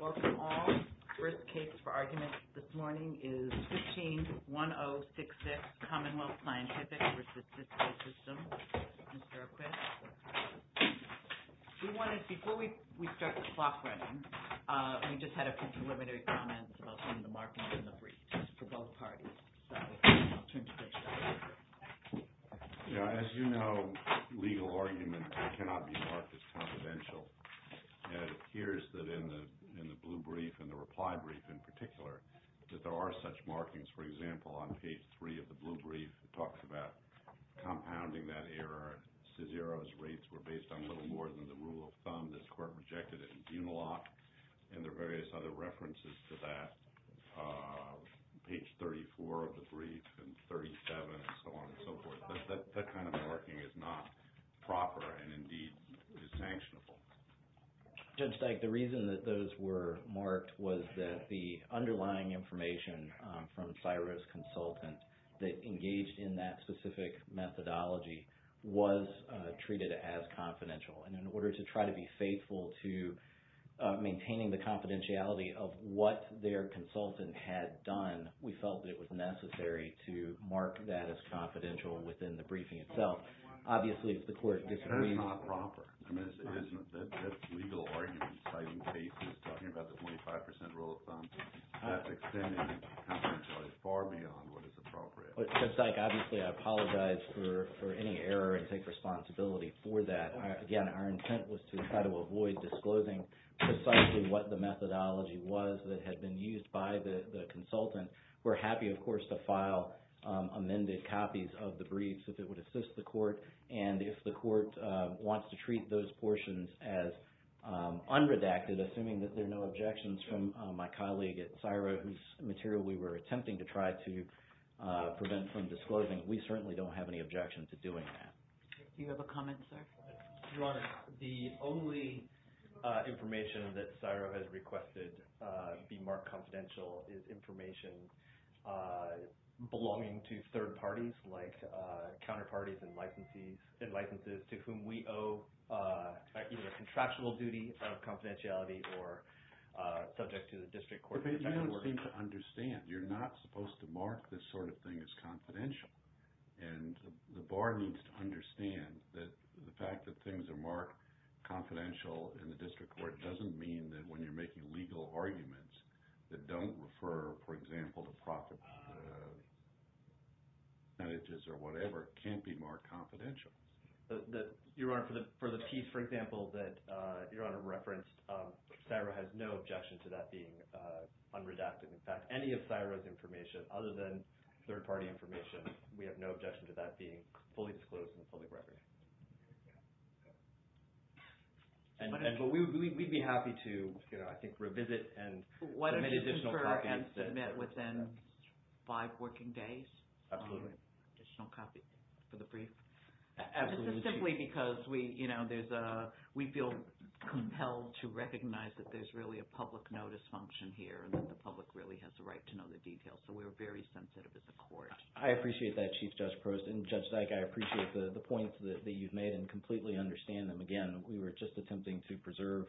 Welcome all. First case for argument this morning is 15-1066 Commonwealth Scientific v. Cisco Systems. Mr. O'Quinn. We wanted, before we start the clock running, we just had a few preliminary comments about some of the markings in the briefs for both parties. As you know, legal arguments cannot be marked as confidential. It appears that in the blue brief and the reply brief in particular, that there are such markings. For example, on page 3 of the blue brief, it talks about compounding that error. Cizero's rates were based on little more than the rule of thumb. This court rejected it in Buenaloc and there are various other references to that. Page 34 of the brief and 37 and so on and so forth. That kind of marking is not proper and indeed is sanctionable. Judge Dyke, the reason that those were marked was that the underlying information from Cizero's consultant that engaged in that specific methodology was treated as confidential. In order to try to be faithful to maintaining the confidentiality of what their consultant had done, we felt that it was necessary to mark that as confidential within the briefing itself. Obviously, if the court disagrees... That's not proper. I mean, that legal argument by the case is talking about the 25% rule of thumb. That's extending confidentiality far beyond what is appropriate. Judge Dyke, obviously, I apologize for any error and take responsibility for that. Again, our intent was to try to avoid disclosing precisely what the methodology was that had been used by the consultant. We're happy, of course, to file amended copies of the briefs if it would assist the court and if the court wants to treat those portions as unredacted, assuming that there are no objections from my colleague at Cizero whose material we were attempting to try to prevent from disclosing, we certainly don't have any objections to doing that. Do you have a comment, sir? Your Honor, the only information that Cizero has requested be marked confidential is information belonging to third parties like counterparties and licenses to whom we owe either contractual duty of confidentiality or subject to the district court... You don't seem to understand. You're not supposed to mark this sort of thing as confidential. And the bar needs to understand that the fact that things are marked confidential in the district court doesn't mean that when you're making legal arguments that don't refer, for example, to profit percentages or whatever can't be marked confidential. Your Honor, for the piece, for example, that Your Honor referenced, Cizero has no objection to that being unredacted. In fact, any of Cizero's information other than third-party information, we have no objection to that being fully disclosed in the public record. We'd be happy to, I think, revisit and send an additional copy. And submit within five working days? Absolutely. Additional copy for the brief? Absolutely. Is this simply because we feel compelled to recognize that there's really a public notice function here and that the public really has a right to know the details, so we're very sensitive at the court? I appreciate that, Chief Judge Prost. And Judge Dyke, I appreciate the points that you've made and completely understand them. Again, we were just attempting to preserve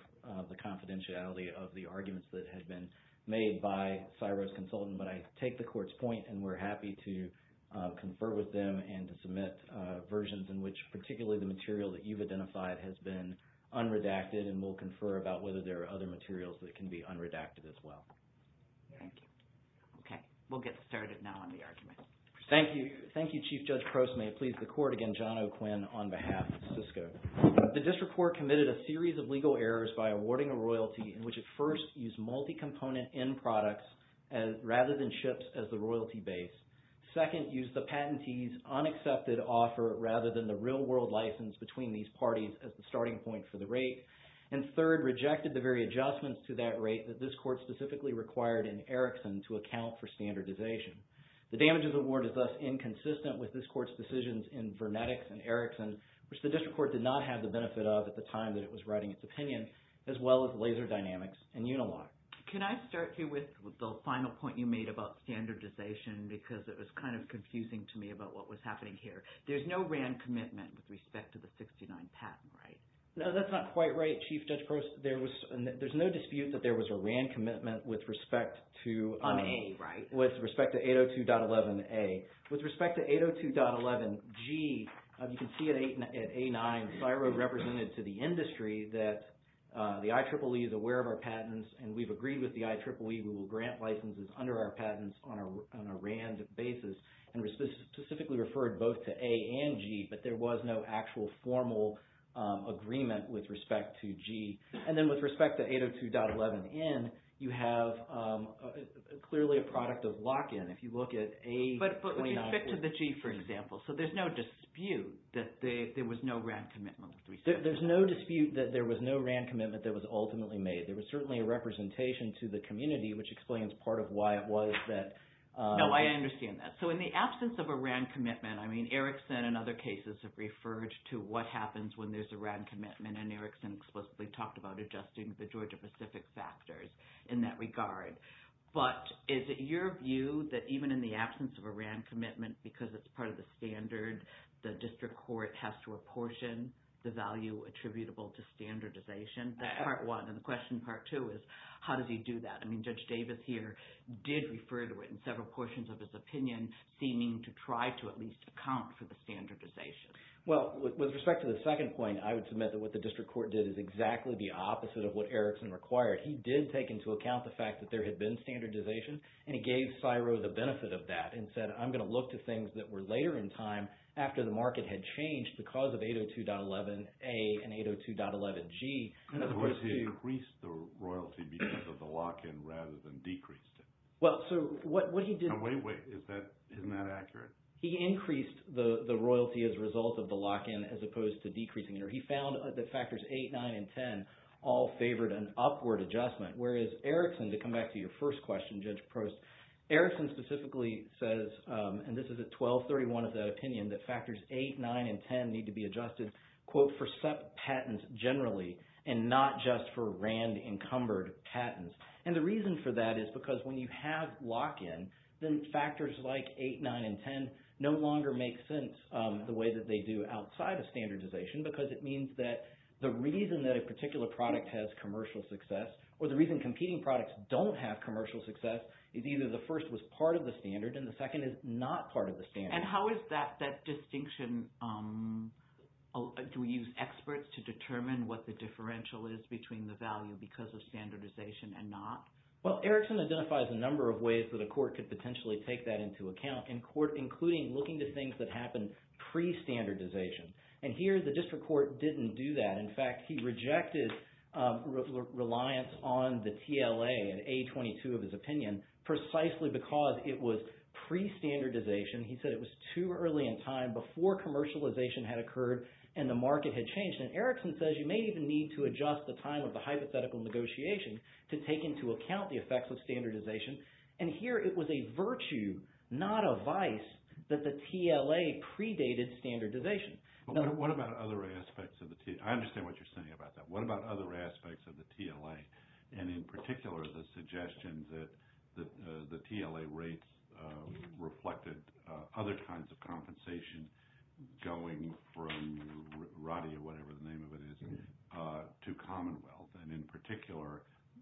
the confidentiality of the arguments that had been made by Cizero's consultant. But I take the court's point and we're happy to confer with them and to submit versions in which particularly the material that you've identified has been unredacted. And we'll confer about whether there are other materials that can be unredacted as well. Thank you. Okay. We'll get started now on the arguments. Thank you. Thank you, Chief Judge Prost. May it please the court. Again, John O'Quinn on behalf of Cisco. The district court committed a series of legal errors by awarding a royalty in which it first used multi-component end products rather than ships as the royalty base. Second, used the patentee's unaccepted offer rather than the real-world license between these parties as the starting point for the rate. And third, rejected the very adjustments to that rate that this court specifically required in Erickson to account for standardization. The damages award is thus inconsistent with this court's decisions in Vernetics and Erickson, which the district court did not have the benefit of at the time that it was writing its opinion, as well as Laser Dynamics and Unilock. Can I start here with the final point you made about standardization because it was kind of confusing to me about what was happening here. There's no RAND commitment with respect to the 69 patent, right? No, that's not quite right, Chief Judge Prost. There was – there's no dispute that there was a RAND commitment with respect to – On A, right? With respect to 802.11A. With respect to 802.11G, you can see at A9, CSIRO represented to the industry that the IEEE is aware of our patents and we've agreed with the IEEE we will grant licenses under our patents on a RAND basis. And specifically referred both to A and G, but there was no actual formal agreement with respect to G. And then with respect to 802.11N, you have clearly a product of lock-in. If you look at A – But with respect to the G, for example. So there's no dispute that there was no RAND commitment with respect to that. There's no dispute that there was no RAND commitment that was ultimately made. There was certainly a representation to the community, which explains part of why it was that – No, I understand that. So in the absence of a RAND commitment, I mean, Erickson and other cases have referred to what happens when there's a RAND commitment. And Erickson explicitly talked about adjusting the Georgia-Pacific factors in that regard. But is it your view that even in the absence of a RAND commitment, because it's part of the standard, the district court has to apportion the value attributable to standardization? That's part one. And the question, part two, is how does he do that? I mean, Judge Davis here did refer to it in several portions of his opinion, seeming to try to at least account for the standardization. Well, with respect to the second point, I would submit that what the district court did is exactly the opposite of what Erickson required. He did take into account the fact that there had been standardization, and he gave CSIRO the benefit of that and said, I'm going to look to things that were later in time after the market had changed because of 802.11A and 802.11G. In other words, he increased the royalty because of the lock-in rather than decreased it. Well, so what he did— Now, wait, wait. Isn't that accurate? He increased the royalty as a result of the lock-in as opposed to decreasing it. He found that factors 8, 9, and 10 all favored an upward adjustment, whereas Erickson, to come back to your first question, Judge Prost, Erickson specifically says, and this is at 1231 of that opinion, that factors 8, 9, and 10 need to be adjusted, quote, for SEP patents generally and not just for RAND-encumbered patents. And the reason for that is because when you have lock-in, then factors like 8, 9, and 10 no longer make sense the way that they do outside of standardization because it means that the reason that a particular product has commercial success or the reason competing products don't have commercial success is either the first was part of the standard and the second is not part of the standard. And how is that distinction—do we use experts to determine what the differential is between the value because of standardization and not? Well, Erickson identifies a number of ways that a court could potentially take that into account in court, including looking to things that happened pre-standardization. And here the district court didn't do that. In fact, he rejected reliance on the TLA and A-22 of his opinion precisely because it was pre-standardization. He said it was too early in time before commercialization had occurred and the market had changed. And Erickson says you may even need to adjust the time of the hypothetical negotiation to take into account the effects of standardization. And here it was a virtue, not a vice, that the TLA predated standardization. But what about other aspects of the—I understand what you're saying about that. And in particular, the suggestion that the TLA rates reflected other kinds of compensation going from Roddy or whatever the name of it is to Commonwealth, and in particular,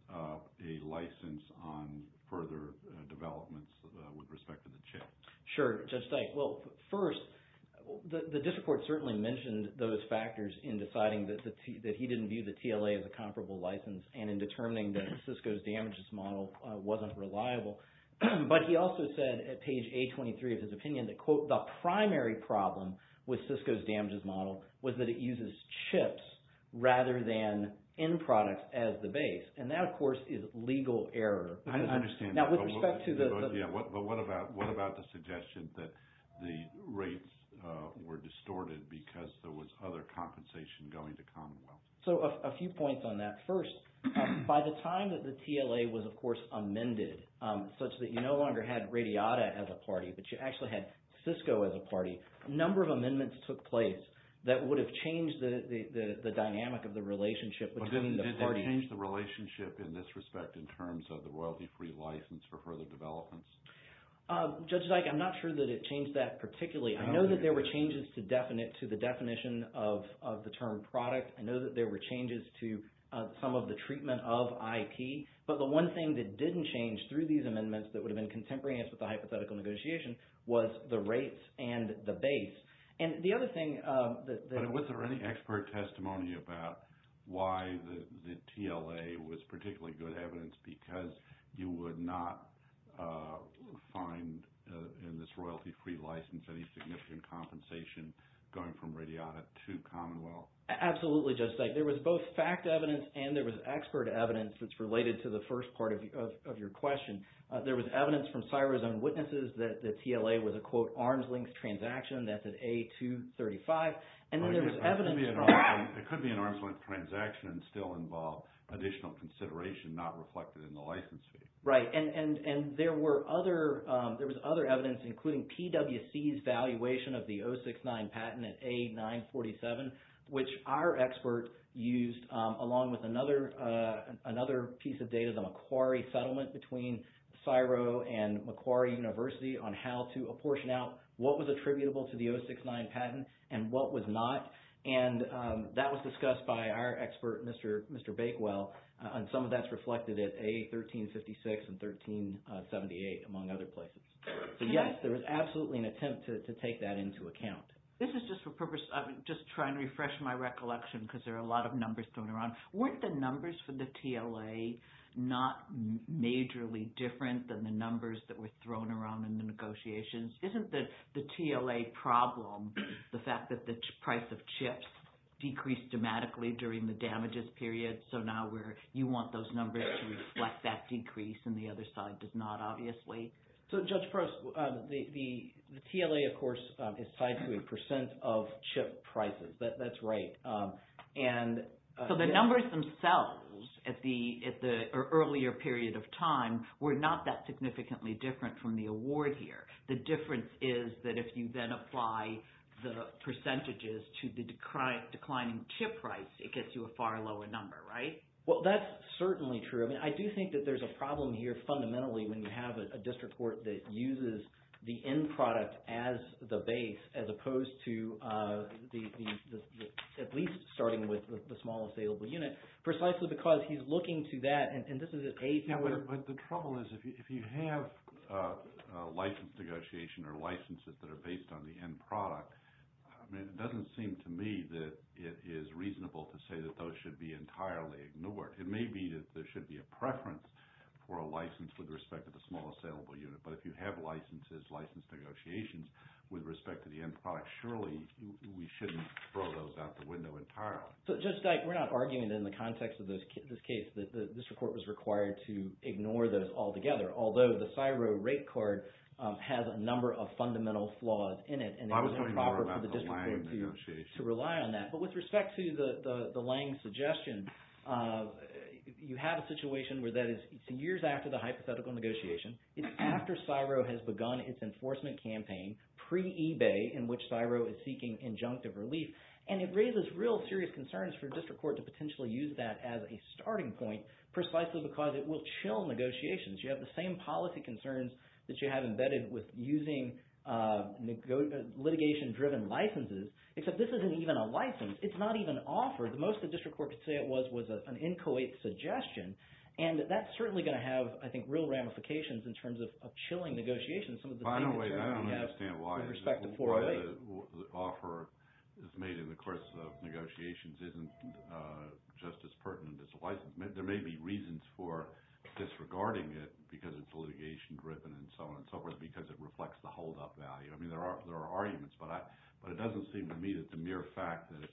a license on further developments with respect to the chip. Sure. Judge Dyke, well, first, the district court certainly mentioned those factors in deciding that he didn't view the TLA as a comparable license. And in determining that Cisco's damages model wasn't reliable. But he also said at page A-23 of his opinion that, quote, the primary problem with Cisco's damages model was that it uses chips rather than end products as the base. And that, of course, is legal error. I understand that. Now, with respect to the— Yeah, but what about the suggestion that the rates were distorted because there was other compensation going to Commonwealth? So a few points on that. First, by the time that the TLA was, of course, amended such that you no longer had Radiata as a party, but you actually had Cisco as a party, a number of amendments took place that would have changed the dynamic of the relationship between the parties. Did that change the relationship in this respect in terms of the royalty-free license for further developments? Judge Dyke, I'm not sure that it changed that particularly. I know that there were changes to the definition of the term product. I know that there were changes to some of the treatment of IP. But the one thing that didn't change through these amendments that would have been contemporaneous with the hypothetical negotiation was the rates and the base. And the other thing that— But was there any expert testimony about why the TLA was particularly good evidence because you would not find in this royalty-free license any significant compensation going from Radiata to Commonwealth? Absolutely, Judge Dyke. There was both fact evidence and there was expert evidence that's related to the first part of your question. There was evidence from CSIRO's own witnesses that the TLA was a, quote, arms-length transaction. That's at A235. And then there was evidence from— It could be an arms-length transaction and still involve additional consideration not reflected in the license fee. Right. And there were other— There was other evidence including PWC's valuation of the 069 patent at A947, which our expert used along with another piece of data, the Macquarie settlement between CSIRO and Macquarie University on how to apportion out what was attributable to the 069 patent and what was not. And that was discussed by our expert, Mr. Bakewell, and some of that's reflected at A1356 and 1378 among other places. So, yes, there was absolutely an attempt to take that into account. This is just for purpose—I'm just trying to refresh my recollection because there are a lot of numbers thrown around. Weren't the numbers for the TLA not majorly different than the numbers that were thrown around in the negotiations? Isn't the TLA problem the fact that the price of chips decreased dramatically during the damages period, so now you want those numbers to reflect that decrease and the other side does not, obviously? So, Judge Prost, the TLA, of course, is tied to a percent of chip prices. That's right. So the numbers themselves at the earlier period of time were not that significantly different from the award here. The difference is that if you then apply the percentages to the declining chip price, it gets you a far lower number, right? Well, that's certainly true. I mean, I do think that there's a problem here fundamentally when you have a district court that uses the end product as the base as opposed to at least starting with the small assailable unit precisely because he's looking to that, and this is at A4— Yeah, but the trouble is if you have a license negotiation or licenses that are based on the end product, it doesn't seem to me that it is reasonable to say that those should be entirely ignored. It may be that there should be a preference for a license with respect to the small assailable unit, but if you have licenses, license negotiations with respect to the end product, surely we shouldn't throw those out the window entirely. So Judge Dyke, we're not arguing that in the context of this case that the district court was required to ignore those altogether, although the CSIRO rate card has a number of fundamental flaws in it, and it is improper for the district court to rely on that. Well, I was talking more about the Lange negotiation. You have a situation where that is years after the hypothetical negotiation. It's after CSIRO has begun its enforcement campaign pre-ebay in which CSIRO is seeking injunctive relief. And it raises real serious concerns for district court to potentially use that as a starting point precisely because it will chill negotiations. You have the same policy concerns that you have embedded with using litigation-driven licenses, except this isn't even a license. It's not even offered. Most of the district court could say it was an inchoate suggestion, and that's certainly going to have, I think, real ramifications in terms of chilling negotiations. I don't understand why the offer is made in the course of negotiations isn't just as pertinent as a license. There may be reasons for disregarding it because it's litigation-driven and so on and so forth because it reflects the holdup value. I mean there are arguments, but it doesn't seem to me that the mere fact that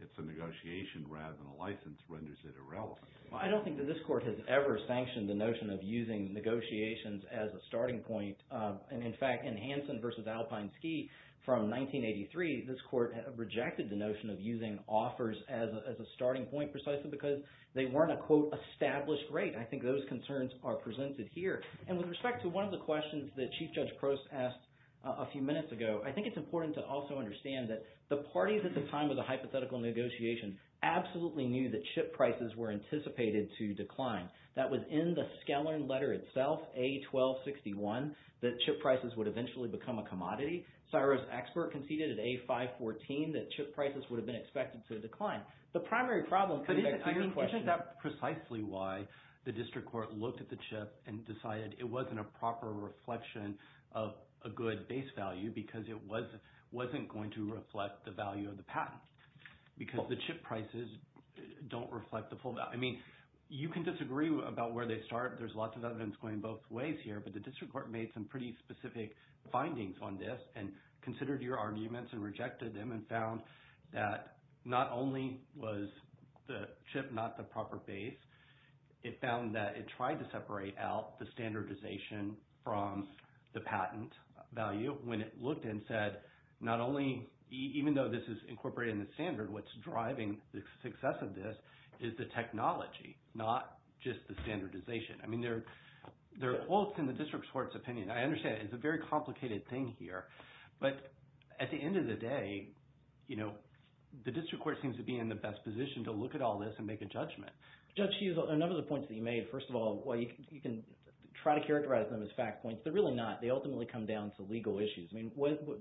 it's a negotiation rather than a license renders it irrelevant. Well, I don't think that this court has ever sanctioned the notion of using negotiations as a starting point. And in fact, in Hansen v. Alpine Ski from 1983, this court rejected the notion of using offers as a starting point precisely because they weren't a, quote, established rate. I think those concerns are presented here. And with respect to one of the questions that Chief Judge Prost asked a few minutes ago, I think it's important to also understand that the parties at the time of the hypothetical negotiation absolutely knew that chip prices were anticipated to decline. That was in the Skellern letter itself, A1261, that chip prices would eventually become a commodity. Cyrus Expert conceded at A514 that chip prices would have been expected to decline. But isn't that precisely why the district court looked at the chip and decided it wasn't a proper reflection of a good base value because it wasn't going to reflect the value of the patent because the chip prices don't reflect the full value? I mean, you can disagree about where they start. There's lots of evidence going both ways here. But the district court made some pretty specific findings on this and considered your arguments and rejected them and found that not only was the chip not the proper base, it found that it tried to separate out the standardization from the patent value. The district court, when it looked and said, not only – even though this is incorporated in the standard, what's driving the success of this is the technology, not just the standardization. I mean there are quotes in the district court's opinion. I understand it's a very complicated thing here. But at the end of the day, the district court seems to be in the best position to look at all this and make a judgment. Judge, a number of the points that you made. First of all, you can try to characterize them as fact points. They're really not. They ultimately come down to legal issues. I mean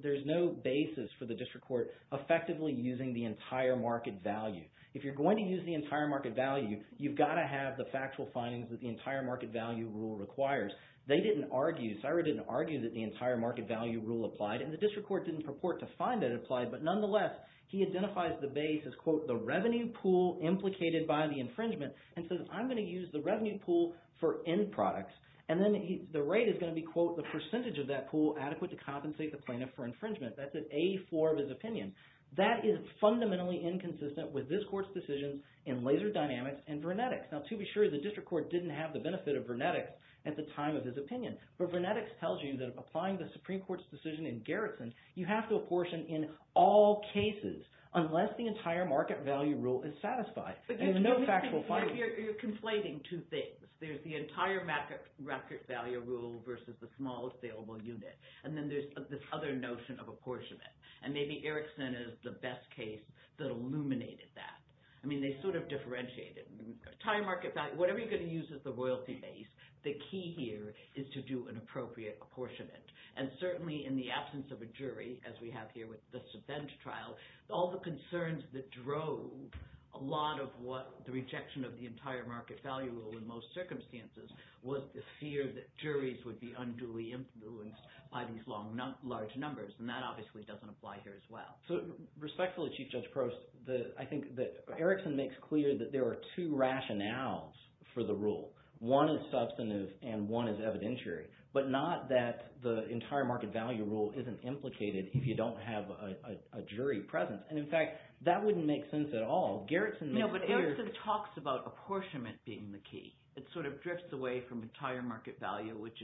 there's no basis for the district court effectively using the entire market value. If you're going to use the entire market value, you've got to have the factual findings that the entire market value rule requires. They didn't argue – Syra didn't argue that the entire market value rule applied, and the district court didn't purport to find that it applied. But nonetheless, he identifies the base as, quote, the revenue pool implicated by the infringement and says I'm going to use the revenue pool for end products. And then the rate is going to be, quote, the percentage of that pool adequate to compensate the plaintiff for infringement. That's at A4 of his opinion. That is fundamentally inconsistent with this court's decisions in Laser Dynamics and Vernetics. Now, to be sure, the district court didn't have the benefit of Vernetics at the time of his opinion. But Vernetics tells you that applying the Supreme Court's decision in Garrison, you have to apportion in all cases unless the entire market value rule is satisfied. There's no factual findings. You're conflating two things. There's the entire market value rule versus the small saleable unit, and then there's this other notion of apportionment. And maybe Erickson is the best case that illuminated that. I mean they sort of differentiated. Entire market value – whatever you're going to use as the royalty base, the key here is to do an appropriate apportionment. And certainly in the absence of a jury, as we have here with the subvent trial, all the concerns that drove a lot of what the rejection of the entire market value rule in most circumstances was the fear that juries would be unduly influenced by these large numbers. And that obviously doesn't apply here as well. So respectfully, Chief Judge Prost, I think that Erickson makes clear that there are two rationales for the rule. One is substantive, and one is evidentiary, but not that the entire market value rule isn't implicated if you don't have a jury presence. And in fact, that wouldn't make sense at all. Garrison makes clear – But Erickson talks about apportionment being the key. It sort of drifts away from entire market value, which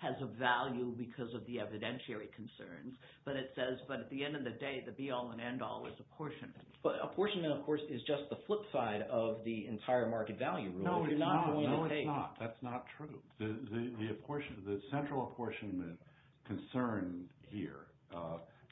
has a value because of the evidentiary concerns. But it says – but at the end of the day, the be-all and end-all is apportionment. But apportionment, of course, is just the flip side of the entire market value rule. No, it's not. No, it's not. That's not true. The central apportionment concern here,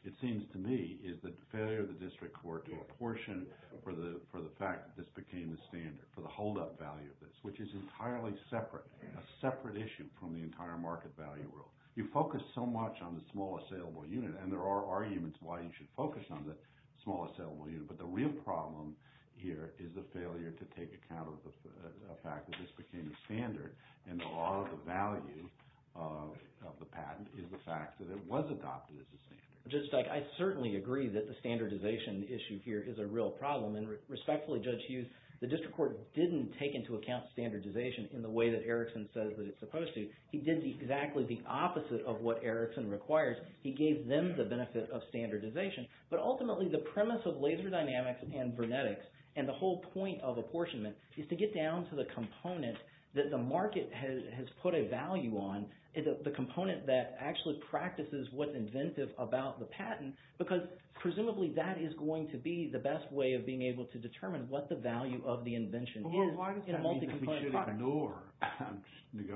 it seems to me, is the failure of the district court to apportion for the fact that this became the standard, for the holdup value of this, which is entirely separate, a separate issue from the entire market value rule. You focus so much on the small assailable unit, and there are arguments why you should focus on the small assailable unit. But the real problem here is the failure to take account of the fact that this became the standard. And the law of the value of the patent is the fact that it was adopted as a standard. Judge Steich, I certainly agree that the standardization issue here is a real problem. And respectfully, Judge Hughes, the district court didn't take into account standardization in the way that Erickson says that it's supposed to. He did exactly the opposite of what Erickson requires. He gave them the benefit of standardization. But ultimately, the premise of laser dynamics and vernetics and the whole point of apportionment is to get down to the component that the market has put a value on, the component that actually practices what's inventive about the patent. Because presumably that is going to be the best way of being able to determine what the value of the invention is in a multi-component product. Well, why does that mean that we should ignore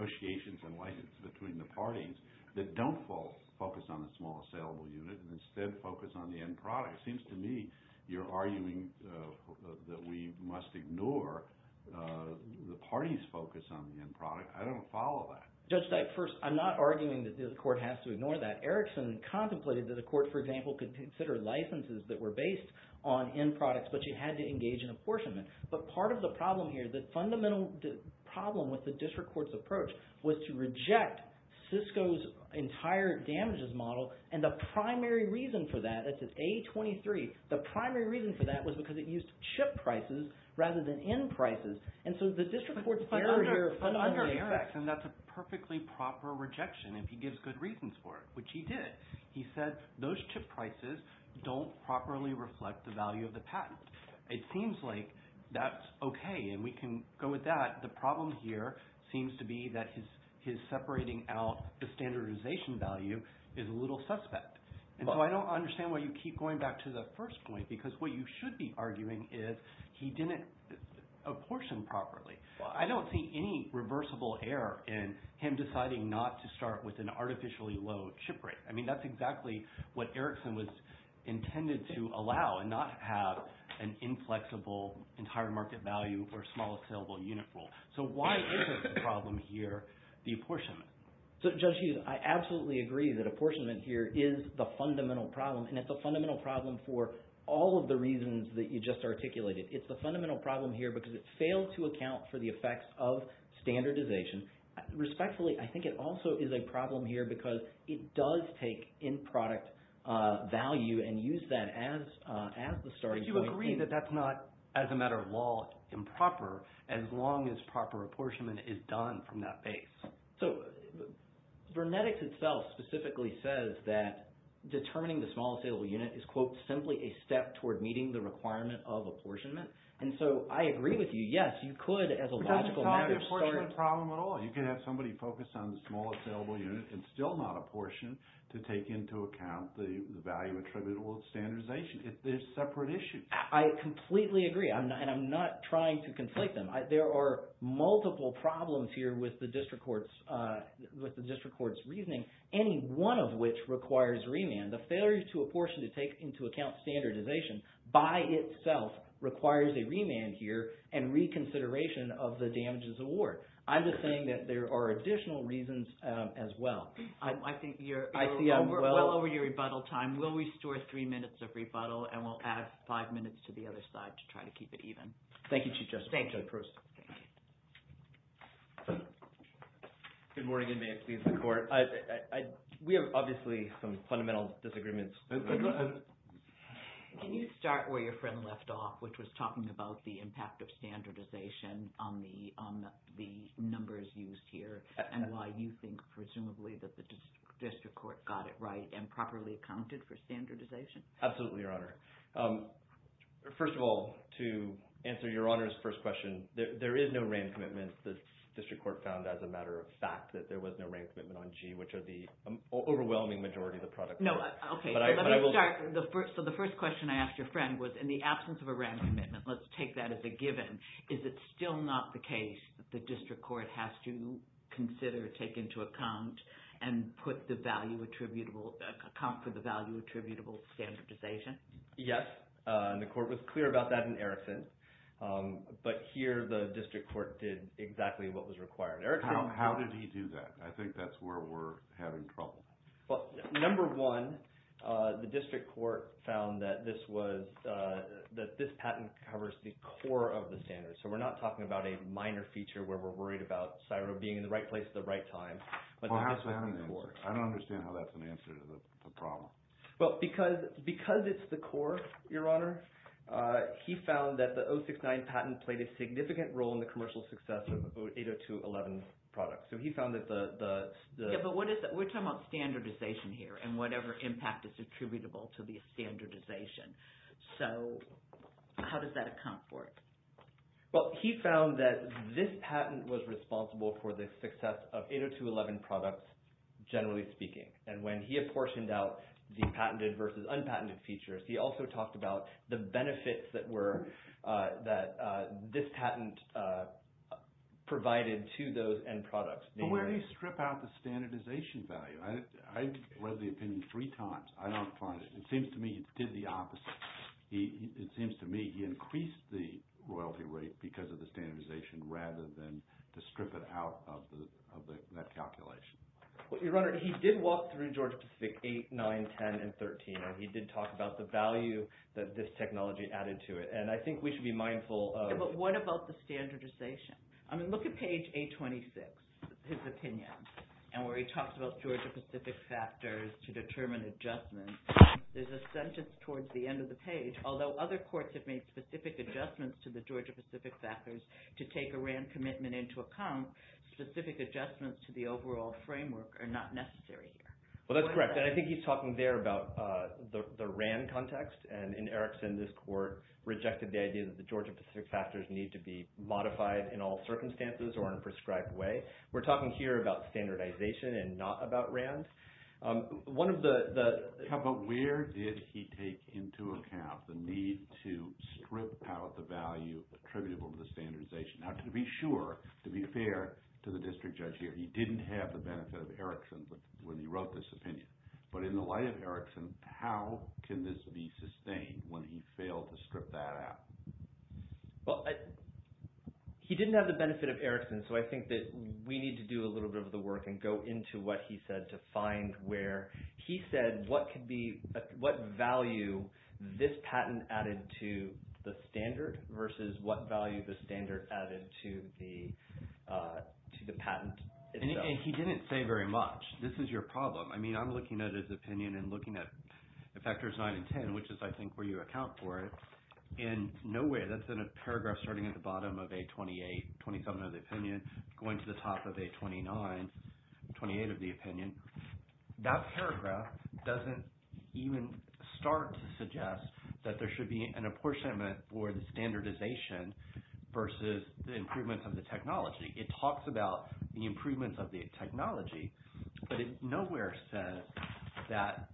negotiations and license between the parties that don't focus on the small assailable unit and instead focus on the end product? It seems to me you're arguing that we must ignore the party's focus on the end product. I don't follow that. Judge Steich, first, I'm not arguing that the court has to ignore that. Erickson contemplated that the court, for example, could consider licenses that were based on end products, but you had to engage in apportionment. But part of the problem here, the fundamental problem with the district court's approach was to reject Cisco's entire damages model. And the primary reason for that, it's an A23. The primary reason for that was because it used chip prices rather than end prices. And so the district court's fundamental effect… He said those chip prices don't properly reflect the value of the patent. It seems like that's okay and we can go with that. The problem here seems to be that his separating out the standardization value is a little suspect. And so I don't understand why you keep going back to the first point because what you should be arguing is he didn't apportion properly. I don't see any reversible error in him deciding not to start with an artificially low chip rate. I mean that's exactly what Erickson was intended to allow and not have an inflexible entire market value or small saleable unit rule. So why isn't the problem here the apportionment? So Judge Hughes, I absolutely agree that apportionment here is the fundamental problem. And it's a fundamental problem for all of the reasons that you just articulated. It's the fundamental problem here because it failed to account for the effects of standardization. Respectfully, I think it also is a problem here because it does take in-product value and use that as the starting point. But you agree that that's not, as a matter of law, improper as long as proper apportionment is done from that base. So Vernetics itself specifically says that determining the small saleable unit is, quote, simply a step toward meeting the requirement of apportionment. And so I agree with you. Yes, you could, as a logical matter, start – It's not an apportionment problem at all. You could have somebody focus on the small saleable unit and still not apportion to take into account the value attributable standardization. They're separate issues. I completely agree. And I'm not trying to conflict them. There are multiple problems here with the district court's reasoning, any one of which requires remand. The failure to apportion to take into account standardization by itself requires a remand here and reconsideration of the damages award. I'm just saying that there are additional reasons as well. I think you're well over your rebuttal time. We'll restore three minutes of rebuttal, and we'll add five minutes to the other side to try to keep it even. Thank you, Chief Justice. Thank you. Judge Proust. Thank you. Good morning, and may it please the court. We have obviously some fundamental disagreements. Can you start where your friend left off, which was talking about the impact of standardization on the numbers used here and why you think presumably that the district court got it right and properly accounted for standardization? Absolutely, Your Honor. First of all, to answer Your Honor's first question, there is no RAM commitment. The district court found as a matter of fact that there was no RAM commitment on G, which are the overwhelming majority of the products. No, okay. Let me start. So the first question I asked your friend was, in the absence of a RAM commitment, let's take that as a given, is it still not the case that the district court has to consider, take into account, and put the value attributable – account for the value attributable standardization? Yes, and the court was clear about that in Erickson, but here the district court did exactly what was required. Erickson – How did he do that? I think that's where we're having trouble. Well, number one, the district court found that this was – that this patent covers the core of the standards. So we're not talking about a minor feature where we're worried about CSIRO being in the right place at the right time. Well, I don't understand how that's an answer to the problem. Well, because it's the core, Your Honor, he found that the 069 patent played a significant role in the commercial success of 802.11 products. So he found that the – But what is – we're talking about standardization here and whatever impact is attributable to the standardization. So how does that account for it? Well, he found that this patent was responsible for the success of 802.11 products, generally speaking. And when he apportioned out the patented versus unpatented features, he also talked about the benefits that were – that this patent provided to those end products. But where do you strip out the standardization value? I read the opinion three times. I don't find it. It seems to me he did the opposite. It seems to me he increased the royalty rate because of the standardization rather than to strip it out of that calculation. Well, Your Honor, he did walk through Georgia-Pacific 8, 9, 10, and 13, and he did talk about the value that this technology added to it. And I think we should be mindful of – Yeah, but what about the standardization? I mean, look at page 826, his opinion, and where he talks about Georgia-Pacific factors to determine adjustments. There's a sentence towards the end of the page, although other courts have made specific adjustments to the Georgia-Pacific factors to take a RAND commitment into account, specific adjustments to the overall framework are not necessary here. Well, that's correct, and I think he's talking there about the RAND context. And in Erickson, this court rejected the idea that the Georgia-Pacific factors need to be modified in all circumstances or in a prescribed way. We're talking here about standardization and not about RAND. One of the – Yeah, but where did he take into account the need to strip out the value attributable to the standardization? Now, to be sure, to be fair to the district judge here, he didn't have the benefit of Erickson when he wrote this opinion. But in the light of Erickson, how can this be sustained when he failed to strip that out? Well, he didn't have the benefit of Erickson, so I think that we need to do a little bit of the work and go into what he said to find where he said what could be – what value this patent added to the standard versus what value the standard added to the patent itself. And he didn't say very much. This is your problem. I mean, I'm looking at his opinion and looking at the factors 9 and 10, which is, I think, where you account for it. In no way – that's in a paragraph starting at the bottom of A28, 27 of the opinion, going to the top of A29, 28 of the opinion. That paragraph doesn't even start to suggest that there should be an apportionment for the standardization versus the improvements of the technology. It talks about the improvements of the technology, but it nowhere says that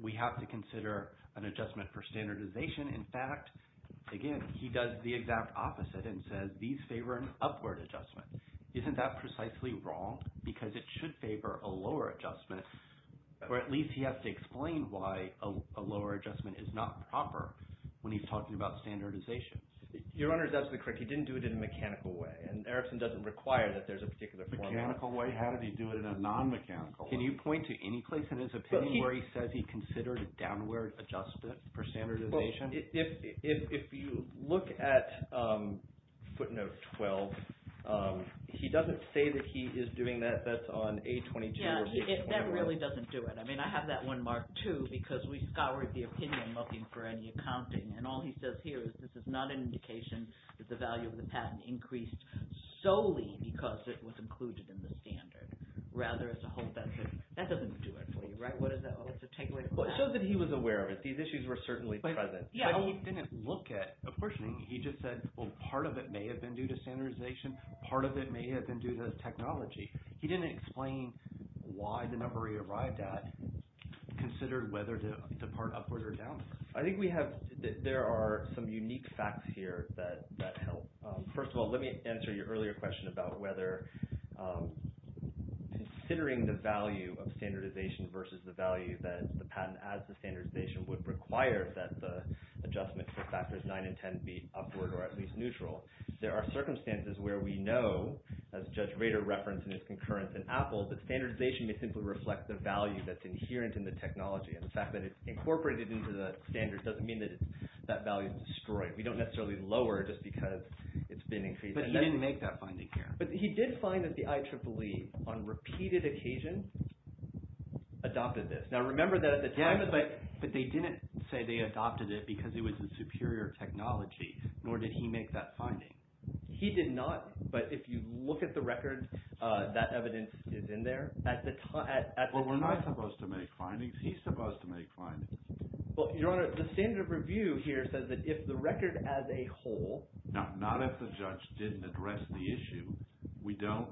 we have to consider an adjustment for standardization. In fact, again, he does the exact opposite and says these favor an upward adjustment. Isn't that precisely wrong? Because it should favor a lower adjustment, or at least he has to explain why a lower adjustment is not proper when he's talking about standardization. Your Honor is absolutely correct. He didn't do it in a mechanical way, and Erikson doesn't require that there's a particular format. Mechanical way? How did he do it in a non-mechanical way? Can you point to any place in his opinion where he says he considered a downward adjustment for standardization? Well, if you look at footnote 12, he doesn't say that he is doing that. That's on A22 or A21. Yeah, that really doesn't do it. I mean, I have that one marked too because we scoured the opinion looking for any accounting, and all he says here is this is not an indication that the value of the patent increased solely because it was included in the standard. Rather, as a whole, that doesn't do it for you, right? What does that mean? It shows that he was aware of it. These issues were certainly present. But he didn't look at it. Unfortunately, he just said, well, part of it may have been due to standardization. Part of it may have been due to technology. He didn't explain why the number he arrived at considered whether to depart upward or downward. I think there are some unique facts here that help. First of all, let me answer your earlier question about whether considering the value of standardization versus the value that the patent as the standardization would require that the adjustment for factors 9 and 10 be upward or at least neutral. There are circumstances where we know, as Judge Rader referenced in his concurrence in Apple, that standardization may simply reflect the value that's inherent in the technology and the fact that it's incorporated into the standard doesn't mean that that value is destroyed. We don't necessarily lower it just because it's been increased. But he didn't make that finding here. But he did find that the IEEE on repeated occasion adopted this. Now, remember that at the time… Yes, but they didn't say they adopted it because it was a superior technology, nor did he make that finding. He did not, but if you look at the record, that evidence is in there. Well, we're not supposed to make findings. He's supposed to make findings. Well, Your Honor, the standard review here says that if the record as a whole… No, not if the judge didn't address the issue. We don't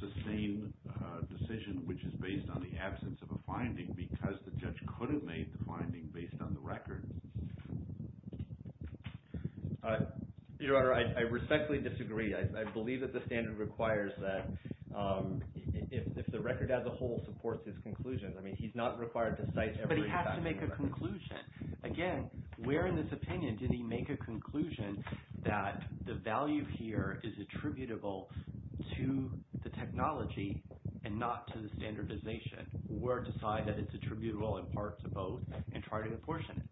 sustain a decision which is based on the absence of a finding because the judge could have made the finding based on the record. Your Honor, I respectfully disagree. I believe that the standard requires that if the record as a whole supports his conclusions. I mean, he's not required to cite every… But he has to make a conclusion. Again, where in this opinion did he make a conclusion that the value here is attributable to the technology and not to the standardization? Or decide that it's attributable in part to both and try to apportion it?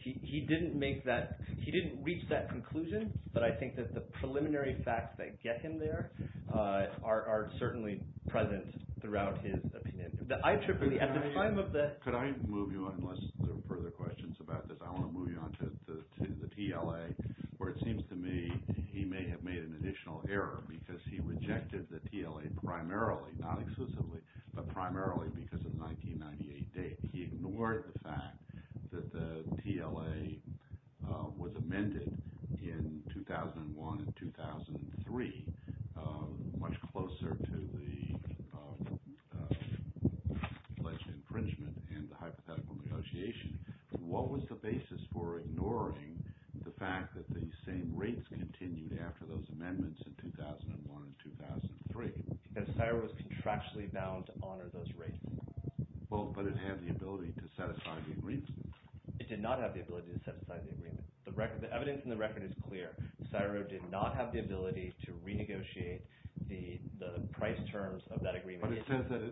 He didn't make that. He didn't reach that conclusion, but I think that the preliminary facts that get him there are certainly present throughout his opinion. Could I move you on unless there are further questions about this? I want to move you on to the TLA where it seems to me he may have made an additional error because he rejected the TLA primarily, not exclusively, but primarily because of the 1998 date. He ignored the fact that the TLA was amended in 2001 and 2003, much closer to the alleged infringement and the hypothetical negotiation. What was the basis for ignoring the fact that the same rates continued after those amendments in 2001 and 2003? That CSIRO is contractually bound to honor those rates. Well, but it had the ability to satisfy the agreement. It did not have the ability to satisfy the agreement. The evidence in the record is clear. CSIRO did not have the ability to renegotiate the price terms of that agreement. But it says that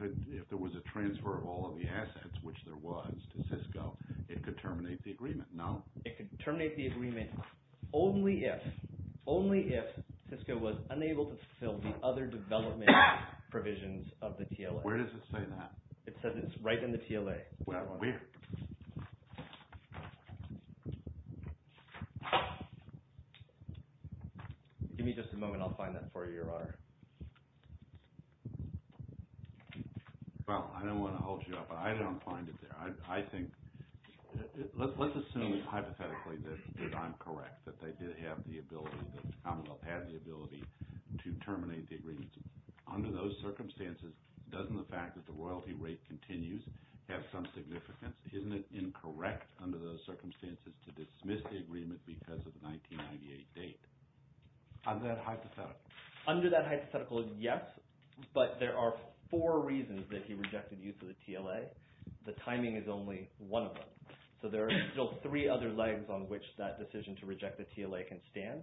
if there was a transfer of all of the assets, which there was, to Cisco, it could terminate the agreement, no? It could terminate the agreement only if Cisco was unable to fulfill the other development provisions of the TLA. Where does it say that? It says it's right in the TLA. Where? Give me just a moment. I'll find that for you, Your Honor. Well, I don't want to hold you up. I don't find it there. I think – let's assume hypothetically that I'm correct, that they did have the ability, that Commonwealth had the ability to terminate the agreement. Under those circumstances, doesn't the fact that the royalty rate continues have some significance? Isn't it incorrect under those circumstances to dismiss the agreement because of the 1998 date? Under that hypothetical? Under that hypothetical, yes. But there are four reasons that he rejected use of the TLA. The timing is only one of them. So there are still three other legs on which that decision to reject the TLA can stand.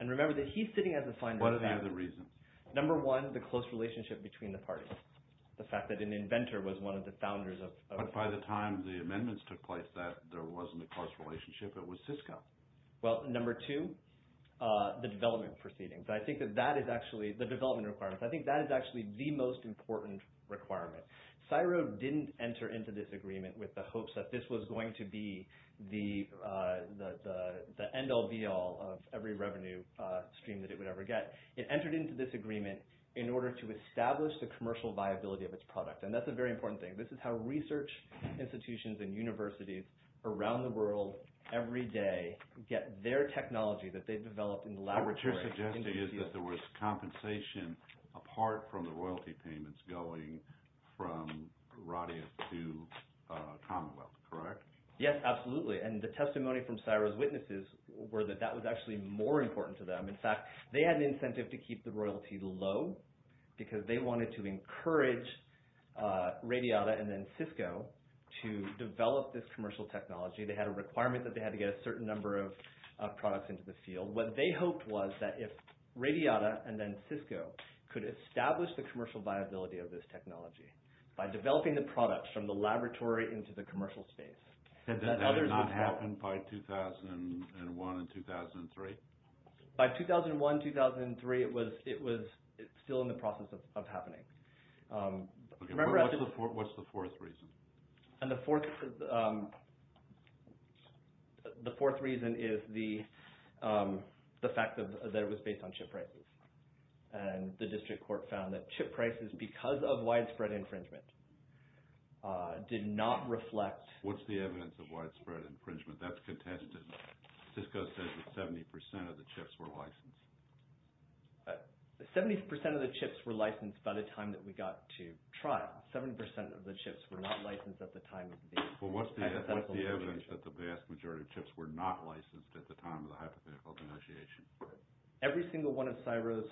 And remember that he's sitting as a finder of facts. What are the other reasons? Number one, the close relationship between the parties. The fact that an inventor was one of the founders of – But by the time the amendments took place, there wasn't a close relationship. It was Cisco. Well, number two, the development proceedings. I think that that is actually – the development requirements. I think that is actually the most important requirement. CSIRO didn't enter into this agreement with the hopes that this was going to be the end-all, be-all of every revenue stream that it would ever get. It entered into this agreement in order to establish the commercial viability of its product. And that's a very important thing. This is how research institutions and universities around the world every day get their technology that they've developed in the laboratory. What you're suggesting is that there was compensation apart from the royalty payments going from Radia to Commonwealth, correct? Yes, absolutely. And the testimony from CSIRO's witnesses were that that was actually more important to them. In fact, they had an incentive to keep the royalty low because they wanted to encourage Radiata and then Cisco to develop this commercial technology. They had a requirement that they had to get a certain number of products into the field. What they hoped was that if Radiata and then Cisco could establish the commercial viability of this technology by developing the products from the laboratory into the commercial space – Did that not happen by 2001 and 2003? By 2001, 2003, it was still in the process of happening. What's the fourth reason? And the fourth reason is the fact that it was based on chip prices. And the district court found that chip prices, because of widespread infringement, did not reflect – What's the evidence of widespread infringement? That's contested. Cisco says that 70% of the chips were licensed. 70% of the chips were licensed by the time that we got to trial. 70% of the chips were not licensed at the time of the hypothetical denunciation. Well, what's the evidence that the vast majority of chips were not licensed at the time of the hypothetical denunciation? Every single one of CSIRO's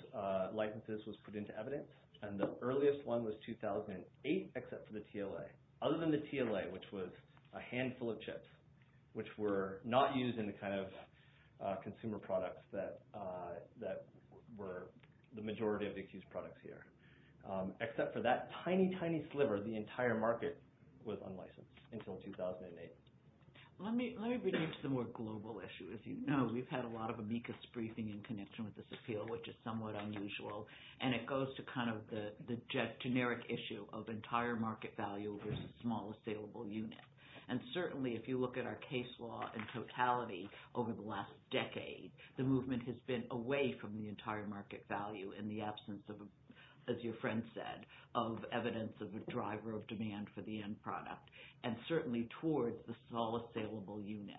licenses was put into evidence, and the earliest one was 2008, except for the TLA. Other than the TLA, which was a handful of chips which were not used in the kind of consumer products that were the majority of the accused products here. Except for that tiny, tiny sliver, the entire market was unlicensed until 2008. Let me bring you to the more global issue. As you know, we've had a lot of amicus briefing in connection with this appeal, which is somewhat unusual. And it goes to kind of the generic issue of entire market value versus small, saleable unit. And certainly, if you look at our case law in totality over the last decade, the movement has been away from the entire market value in the absence of, as your friend said, of evidence of a driver of demand for the end product. And certainly towards the small, saleable unit.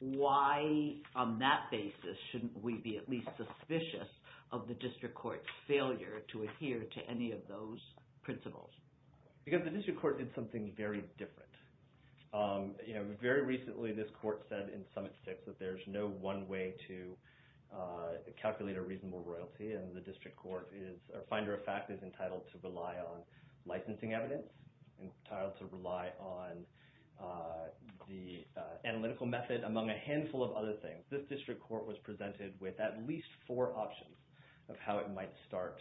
Why, on that basis, shouldn't we be at least suspicious of the district court's failure to adhere to any of those principles? Because the district court did something very different. Very recently, this court said in Summit 6 that there's no one way to calculate a reasonable royalty. And the district court is, or finder of fact, is entitled to rely on licensing evidence. Entitled to rely on the analytical method, among a handful of other things. This district court was presented with at least four options of how it might start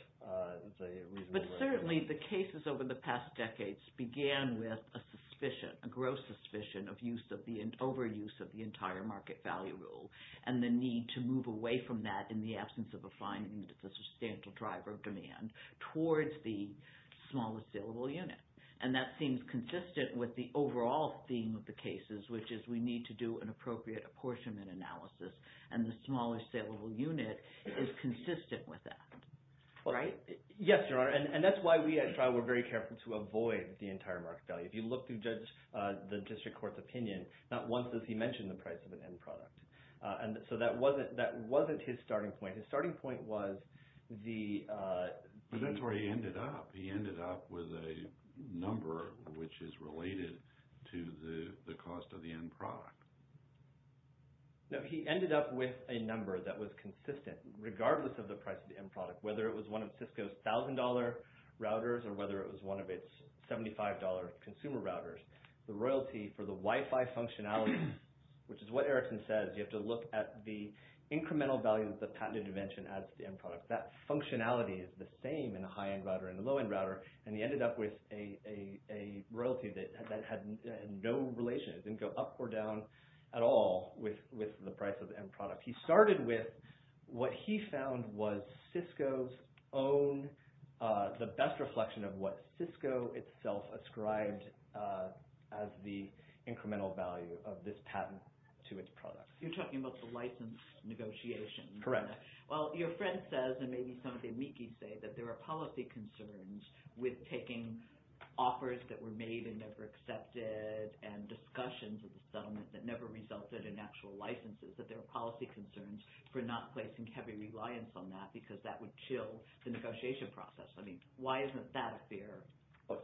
the reasonable royalty. But certainly, the cases over the past decades began with a suspicion, a gross suspicion, of overuse of the entire market value rule. And the need to move away from that in the absence of a finding that there's a substantial driver of demand towards the small, saleable unit. And that seems consistent with the overall theme of the cases, which is we need to do an appropriate apportionment analysis. And the small, saleable unit is consistent with that. Right? Yes, Your Honor. And that's why we at trial were very careful to avoid the entire market value. If you look through the district court's opinion, not once does he mention the price of an end product. And so that wasn't his starting point. His starting point was the… But that's where he ended up. He ended up with a number which is related to the cost of the end product. No, he ended up with a number that was consistent regardless of the price of the end product. Whether it was one of Cisco's $1,000 routers or whether it was one of its $75 consumer routers. The royalty for the Wi-Fi functionality, which is what Erickson says. You have to look at the incremental value of the patent intervention as the end product. That functionality is the same in a high-end router and a low-end router. And he ended up with a royalty that had no relation. It didn't go up or down at all with the price of the end product. He started with what he found was Cisco's own… The best reflection of what Cisco itself ascribed as the incremental value of this patent to its product. You're talking about the license negotiation. Correct. Well, your friend says, and maybe some of the amici say, that there are policy concerns with taking offers that were made and never accepted and discussions of the settlement that never resulted in actual licenses. That there are policy concerns for not placing heavy reliance on that because that would chill the negotiation process. I mean, why isn't that a fear?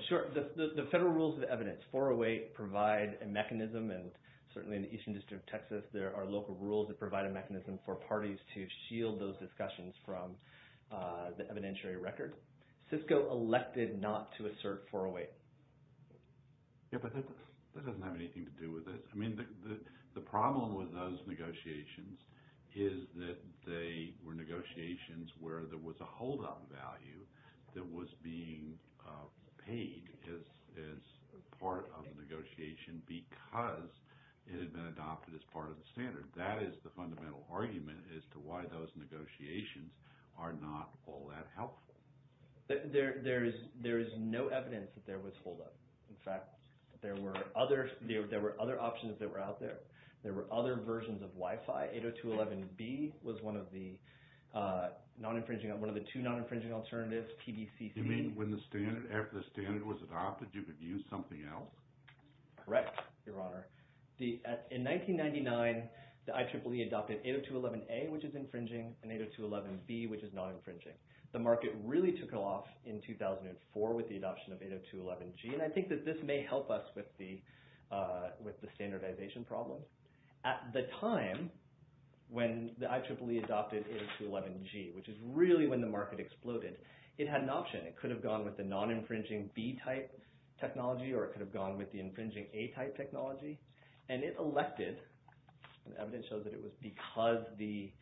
Sure. The federal rules of evidence, 408, provide a mechanism. And certainly in the Eastern District of Texas, there are local rules that provide a mechanism for parties to shield those discussions from the evidentiary record. Cisco elected not to assert 408. Yeah, but that doesn't have anything to do with this. I mean, the problem with those negotiations is that they were negotiations where there was a holdup value that was being paid as part of the negotiation because it had been adopted as part of the standard. That is the fundamental argument as to why those negotiations are not all that helpful. There is no evidence that there was holdup. In fact, there were other options that were out there. There were other versions of Wi-Fi. 802.11b was one of the non-infringing – one of the two non-infringing alternatives, PBCC. You mean when the standard – after the standard was adopted, you could use something else? Correct, your honor. In 1999, the IEEE adopted 802.11a, which is infringing, and 802.11b, which is non-infringing. The market really took off in 2004 with the adoption of 802.11g, and I think that this may help us with the standardization problem. At the time when the IEEE adopted 802.11g, which is really when the market exploded, it had an option. It could have gone with the non-infringing b-type technology or it could have gone with the infringing a-type technology. It elected – the evidence shows that it was because the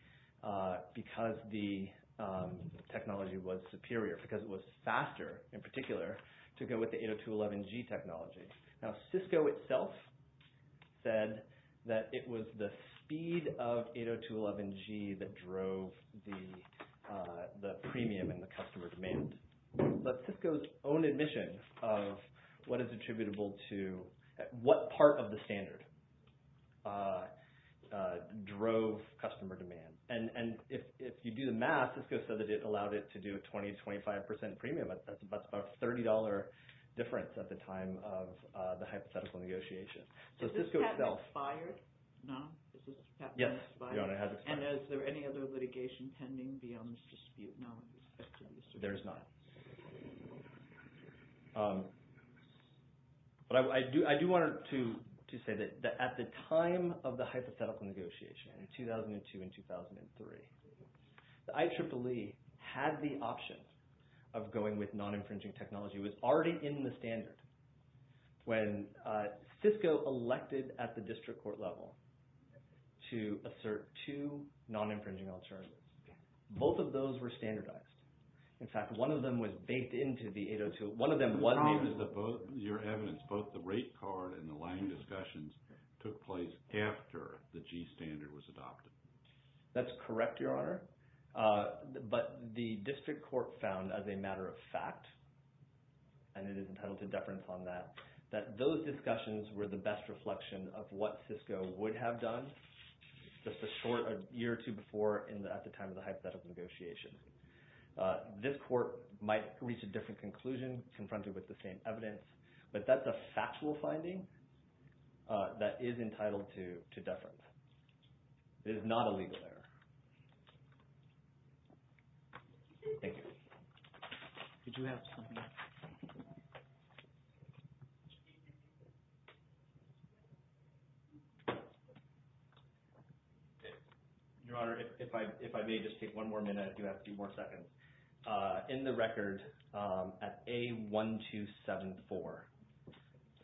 technology was superior, because it was faster in particular, to go with the 802.11g technology. Now, Cisco itself said that it was the speed of 802.11g that drove the premium in the customer demand. But Cisco's own admission of what is attributable to – what part of the standard drove customer demand. And if you do the math, Cisco said that it allowed it to do a 20%, 25% premium. That's about a $30 difference at the time of the hypothetical negotiation. So Cisco itself – So has this patent expired? No. Has this patent expired? Yes, your honor, it has expired. And is there any other litigation pending beyond this dispute now with respect to this? There is not. But I do want to say that at the time of the hypothetical negotiation in 2002 and 2003, the IEEE had the option of going with non-infringing technology. It was already in the standard when Cisco elected at the district court level to assert two non-infringing alternatives. Both of those were standardized. In fact, one of them was baked into the 802. One of them was – Your evidence, both the rate card and the line discussions took place after the G standard was adopted. That's correct, your honor. But the district court found as a matter of fact, and it is entitled to deference on that, that those discussions were the best reflection of what Cisco would have done just a short – a year or two before at the time of the hypothetical negotiation. This court might reach a different conclusion confronted with the same evidence, but that's a factual finding that is entitled to deference. It is not a legal error. Thank you. Did you have something else? Your honor, if I may just take one more minute, if you have a few more seconds. In the record at A1274,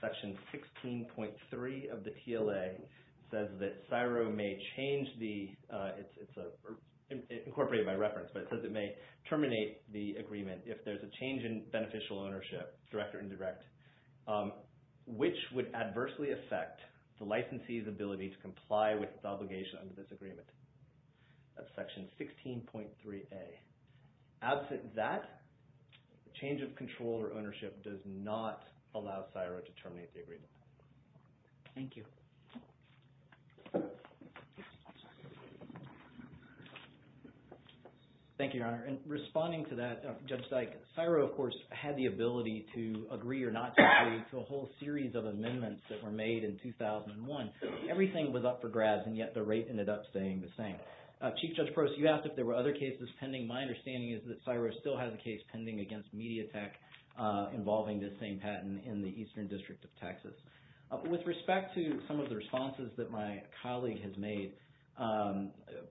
section 16.3 of the TLA says that CSIRO may change the – it's incorporated by reference, but it says it may terminate the agreement if there's a change in beneficial ownership, direct or indirect, which would adversely affect the licensee's ability to comply with the obligation under this agreement. That's section 16.3A. Absent that, change of control or ownership does not allow CSIRO to terminate the agreement. Thank you. Thank you, your honor. And responding to that, Judge Dyke, CSIRO, of course, had the ability to agree or not agree to a whole series of amendments that were made in 2001. Everything was up for grabs, and yet the rate ended up staying the same. Chief Judge Proce, you asked if there were other cases pending. My understanding is that CSIRO still has a case pending against Mediatek involving this same patent in the Eastern District of Texas. With respect to some of the responses that my colleague has made,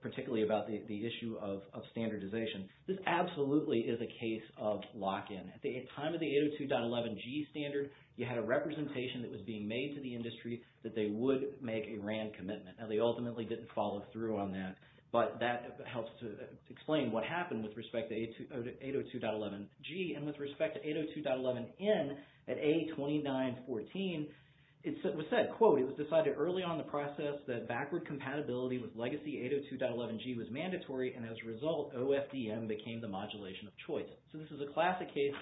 particularly about the issue of standardization, this absolutely is a case of lock-in. At the time of the 802.11g standard, you had a representation that was being made to the industry that they would make a RAND commitment. Now, they ultimately didn't follow through on that, but that helps to explain what happened with respect to 802.11g. And with respect to 802.11n at A2914, it was said, quote, it was decided early on in the process that backward compatibility with legacy 802.11g was mandatory, and as a result, OFDM became the modulation of choice. So this is a classic case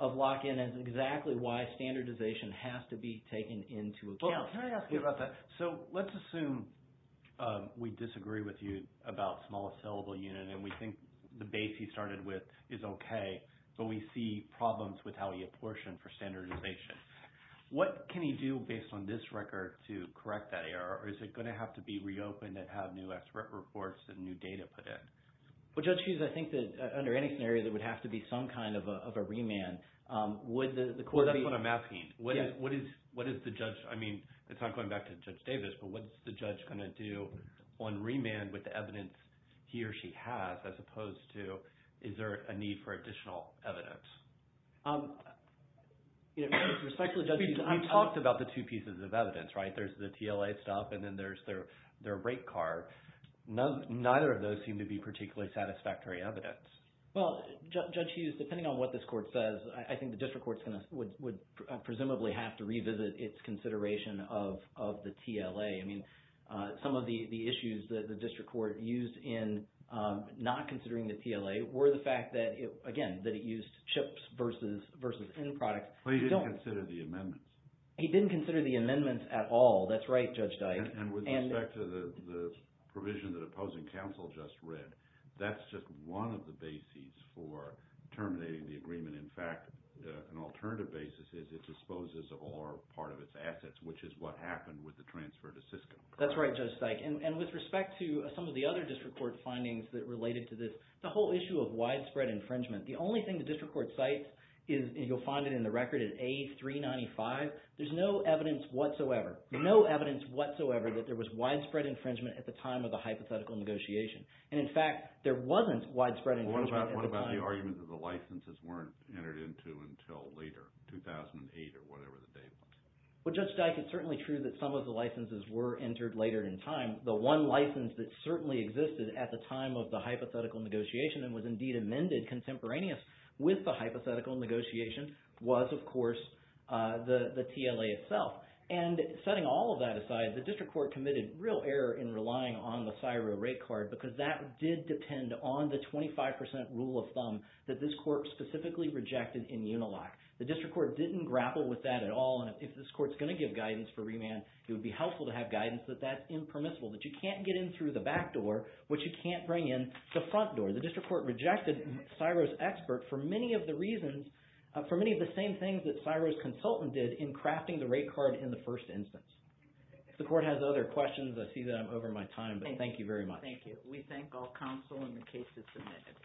of lock-in, and it's exactly why standardization has to be taken into account. Can I ask you about that? So let's assume we disagree with you about small-assailable unit, and we think the base he started with is okay, but we see problems with how he apportioned for standardization. What can he do based on this record to correct that error, or is it going to have to be reopened and have new expert reports and new data put in? Well, Judge Hughes, I think that under any scenario, there would have to be some kind of a remand. Would the court be – Well, that's what I'm asking. What is the judge – I mean, it's not going back to Judge Davis, but what's the judge going to do on remand with the evidence he or she has as opposed to, is there a need for additional evidence? Respectfully, Judge Hughes, you talked about the two pieces of evidence, right? There's the TLA stuff, and then there's their rate card. Neither of those seem to be particularly satisfactory evidence. Well, Judge Hughes, depending on what this court says, I think the district court would presumably have to revisit its consideration of the TLA. I mean, some of the issues that the district court used in not considering the TLA were the fact that, again, that it used chips versus end products. But he didn't consider the amendments. He didn't consider the amendments at all. That's right, Judge Dyke. And with respect to the provision that opposing counsel just read, that's just one of the bases for terminating the agreement. In fact, an alternative basis is it disposes of all or part of its assets, which is what happened with the transfer to Cisco. That's right, Judge Dyke. And with respect to some of the other district court findings that related to this, the whole issue of widespread infringement, the only thing the district court cites is – and you'll find it in the record – is A395. There's no evidence whatsoever, no evidence whatsoever, that there was widespread infringement at the time of the hypothetical negotiation. And, in fact, there wasn't widespread infringement at the time. What about the argument that the licenses weren't entered into until later, 2008 or whatever the date was? Well, Judge Dyke, it's certainly true that some of the licenses were entered later in time. The one license that certainly existed at the time of the hypothetical negotiation and was indeed amended contemporaneous with the hypothetical negotiation was, of course, the TLA itself. And setting all of that aside, the district court committed real error in relying on the CSIRO rate card because that did depend on the 25 percent rule of thumb that this court specifically rejected in UNILOC. The district court didn't grapple with that at all. And if this court's going to give guidance for remand, it would be helpful to have guidance that that's impermissible, that you can't get in through the back door, which you can't bring in the front door. The district court rejected CSIRO's expert for many of the reasons – for many of the same things that CSIRO's consultant did in crafting the rate card in the first instance. If the court has other questions, I see that I'm over my time, but thank you very much. Thank you. We thank all counsel and the cases submitted.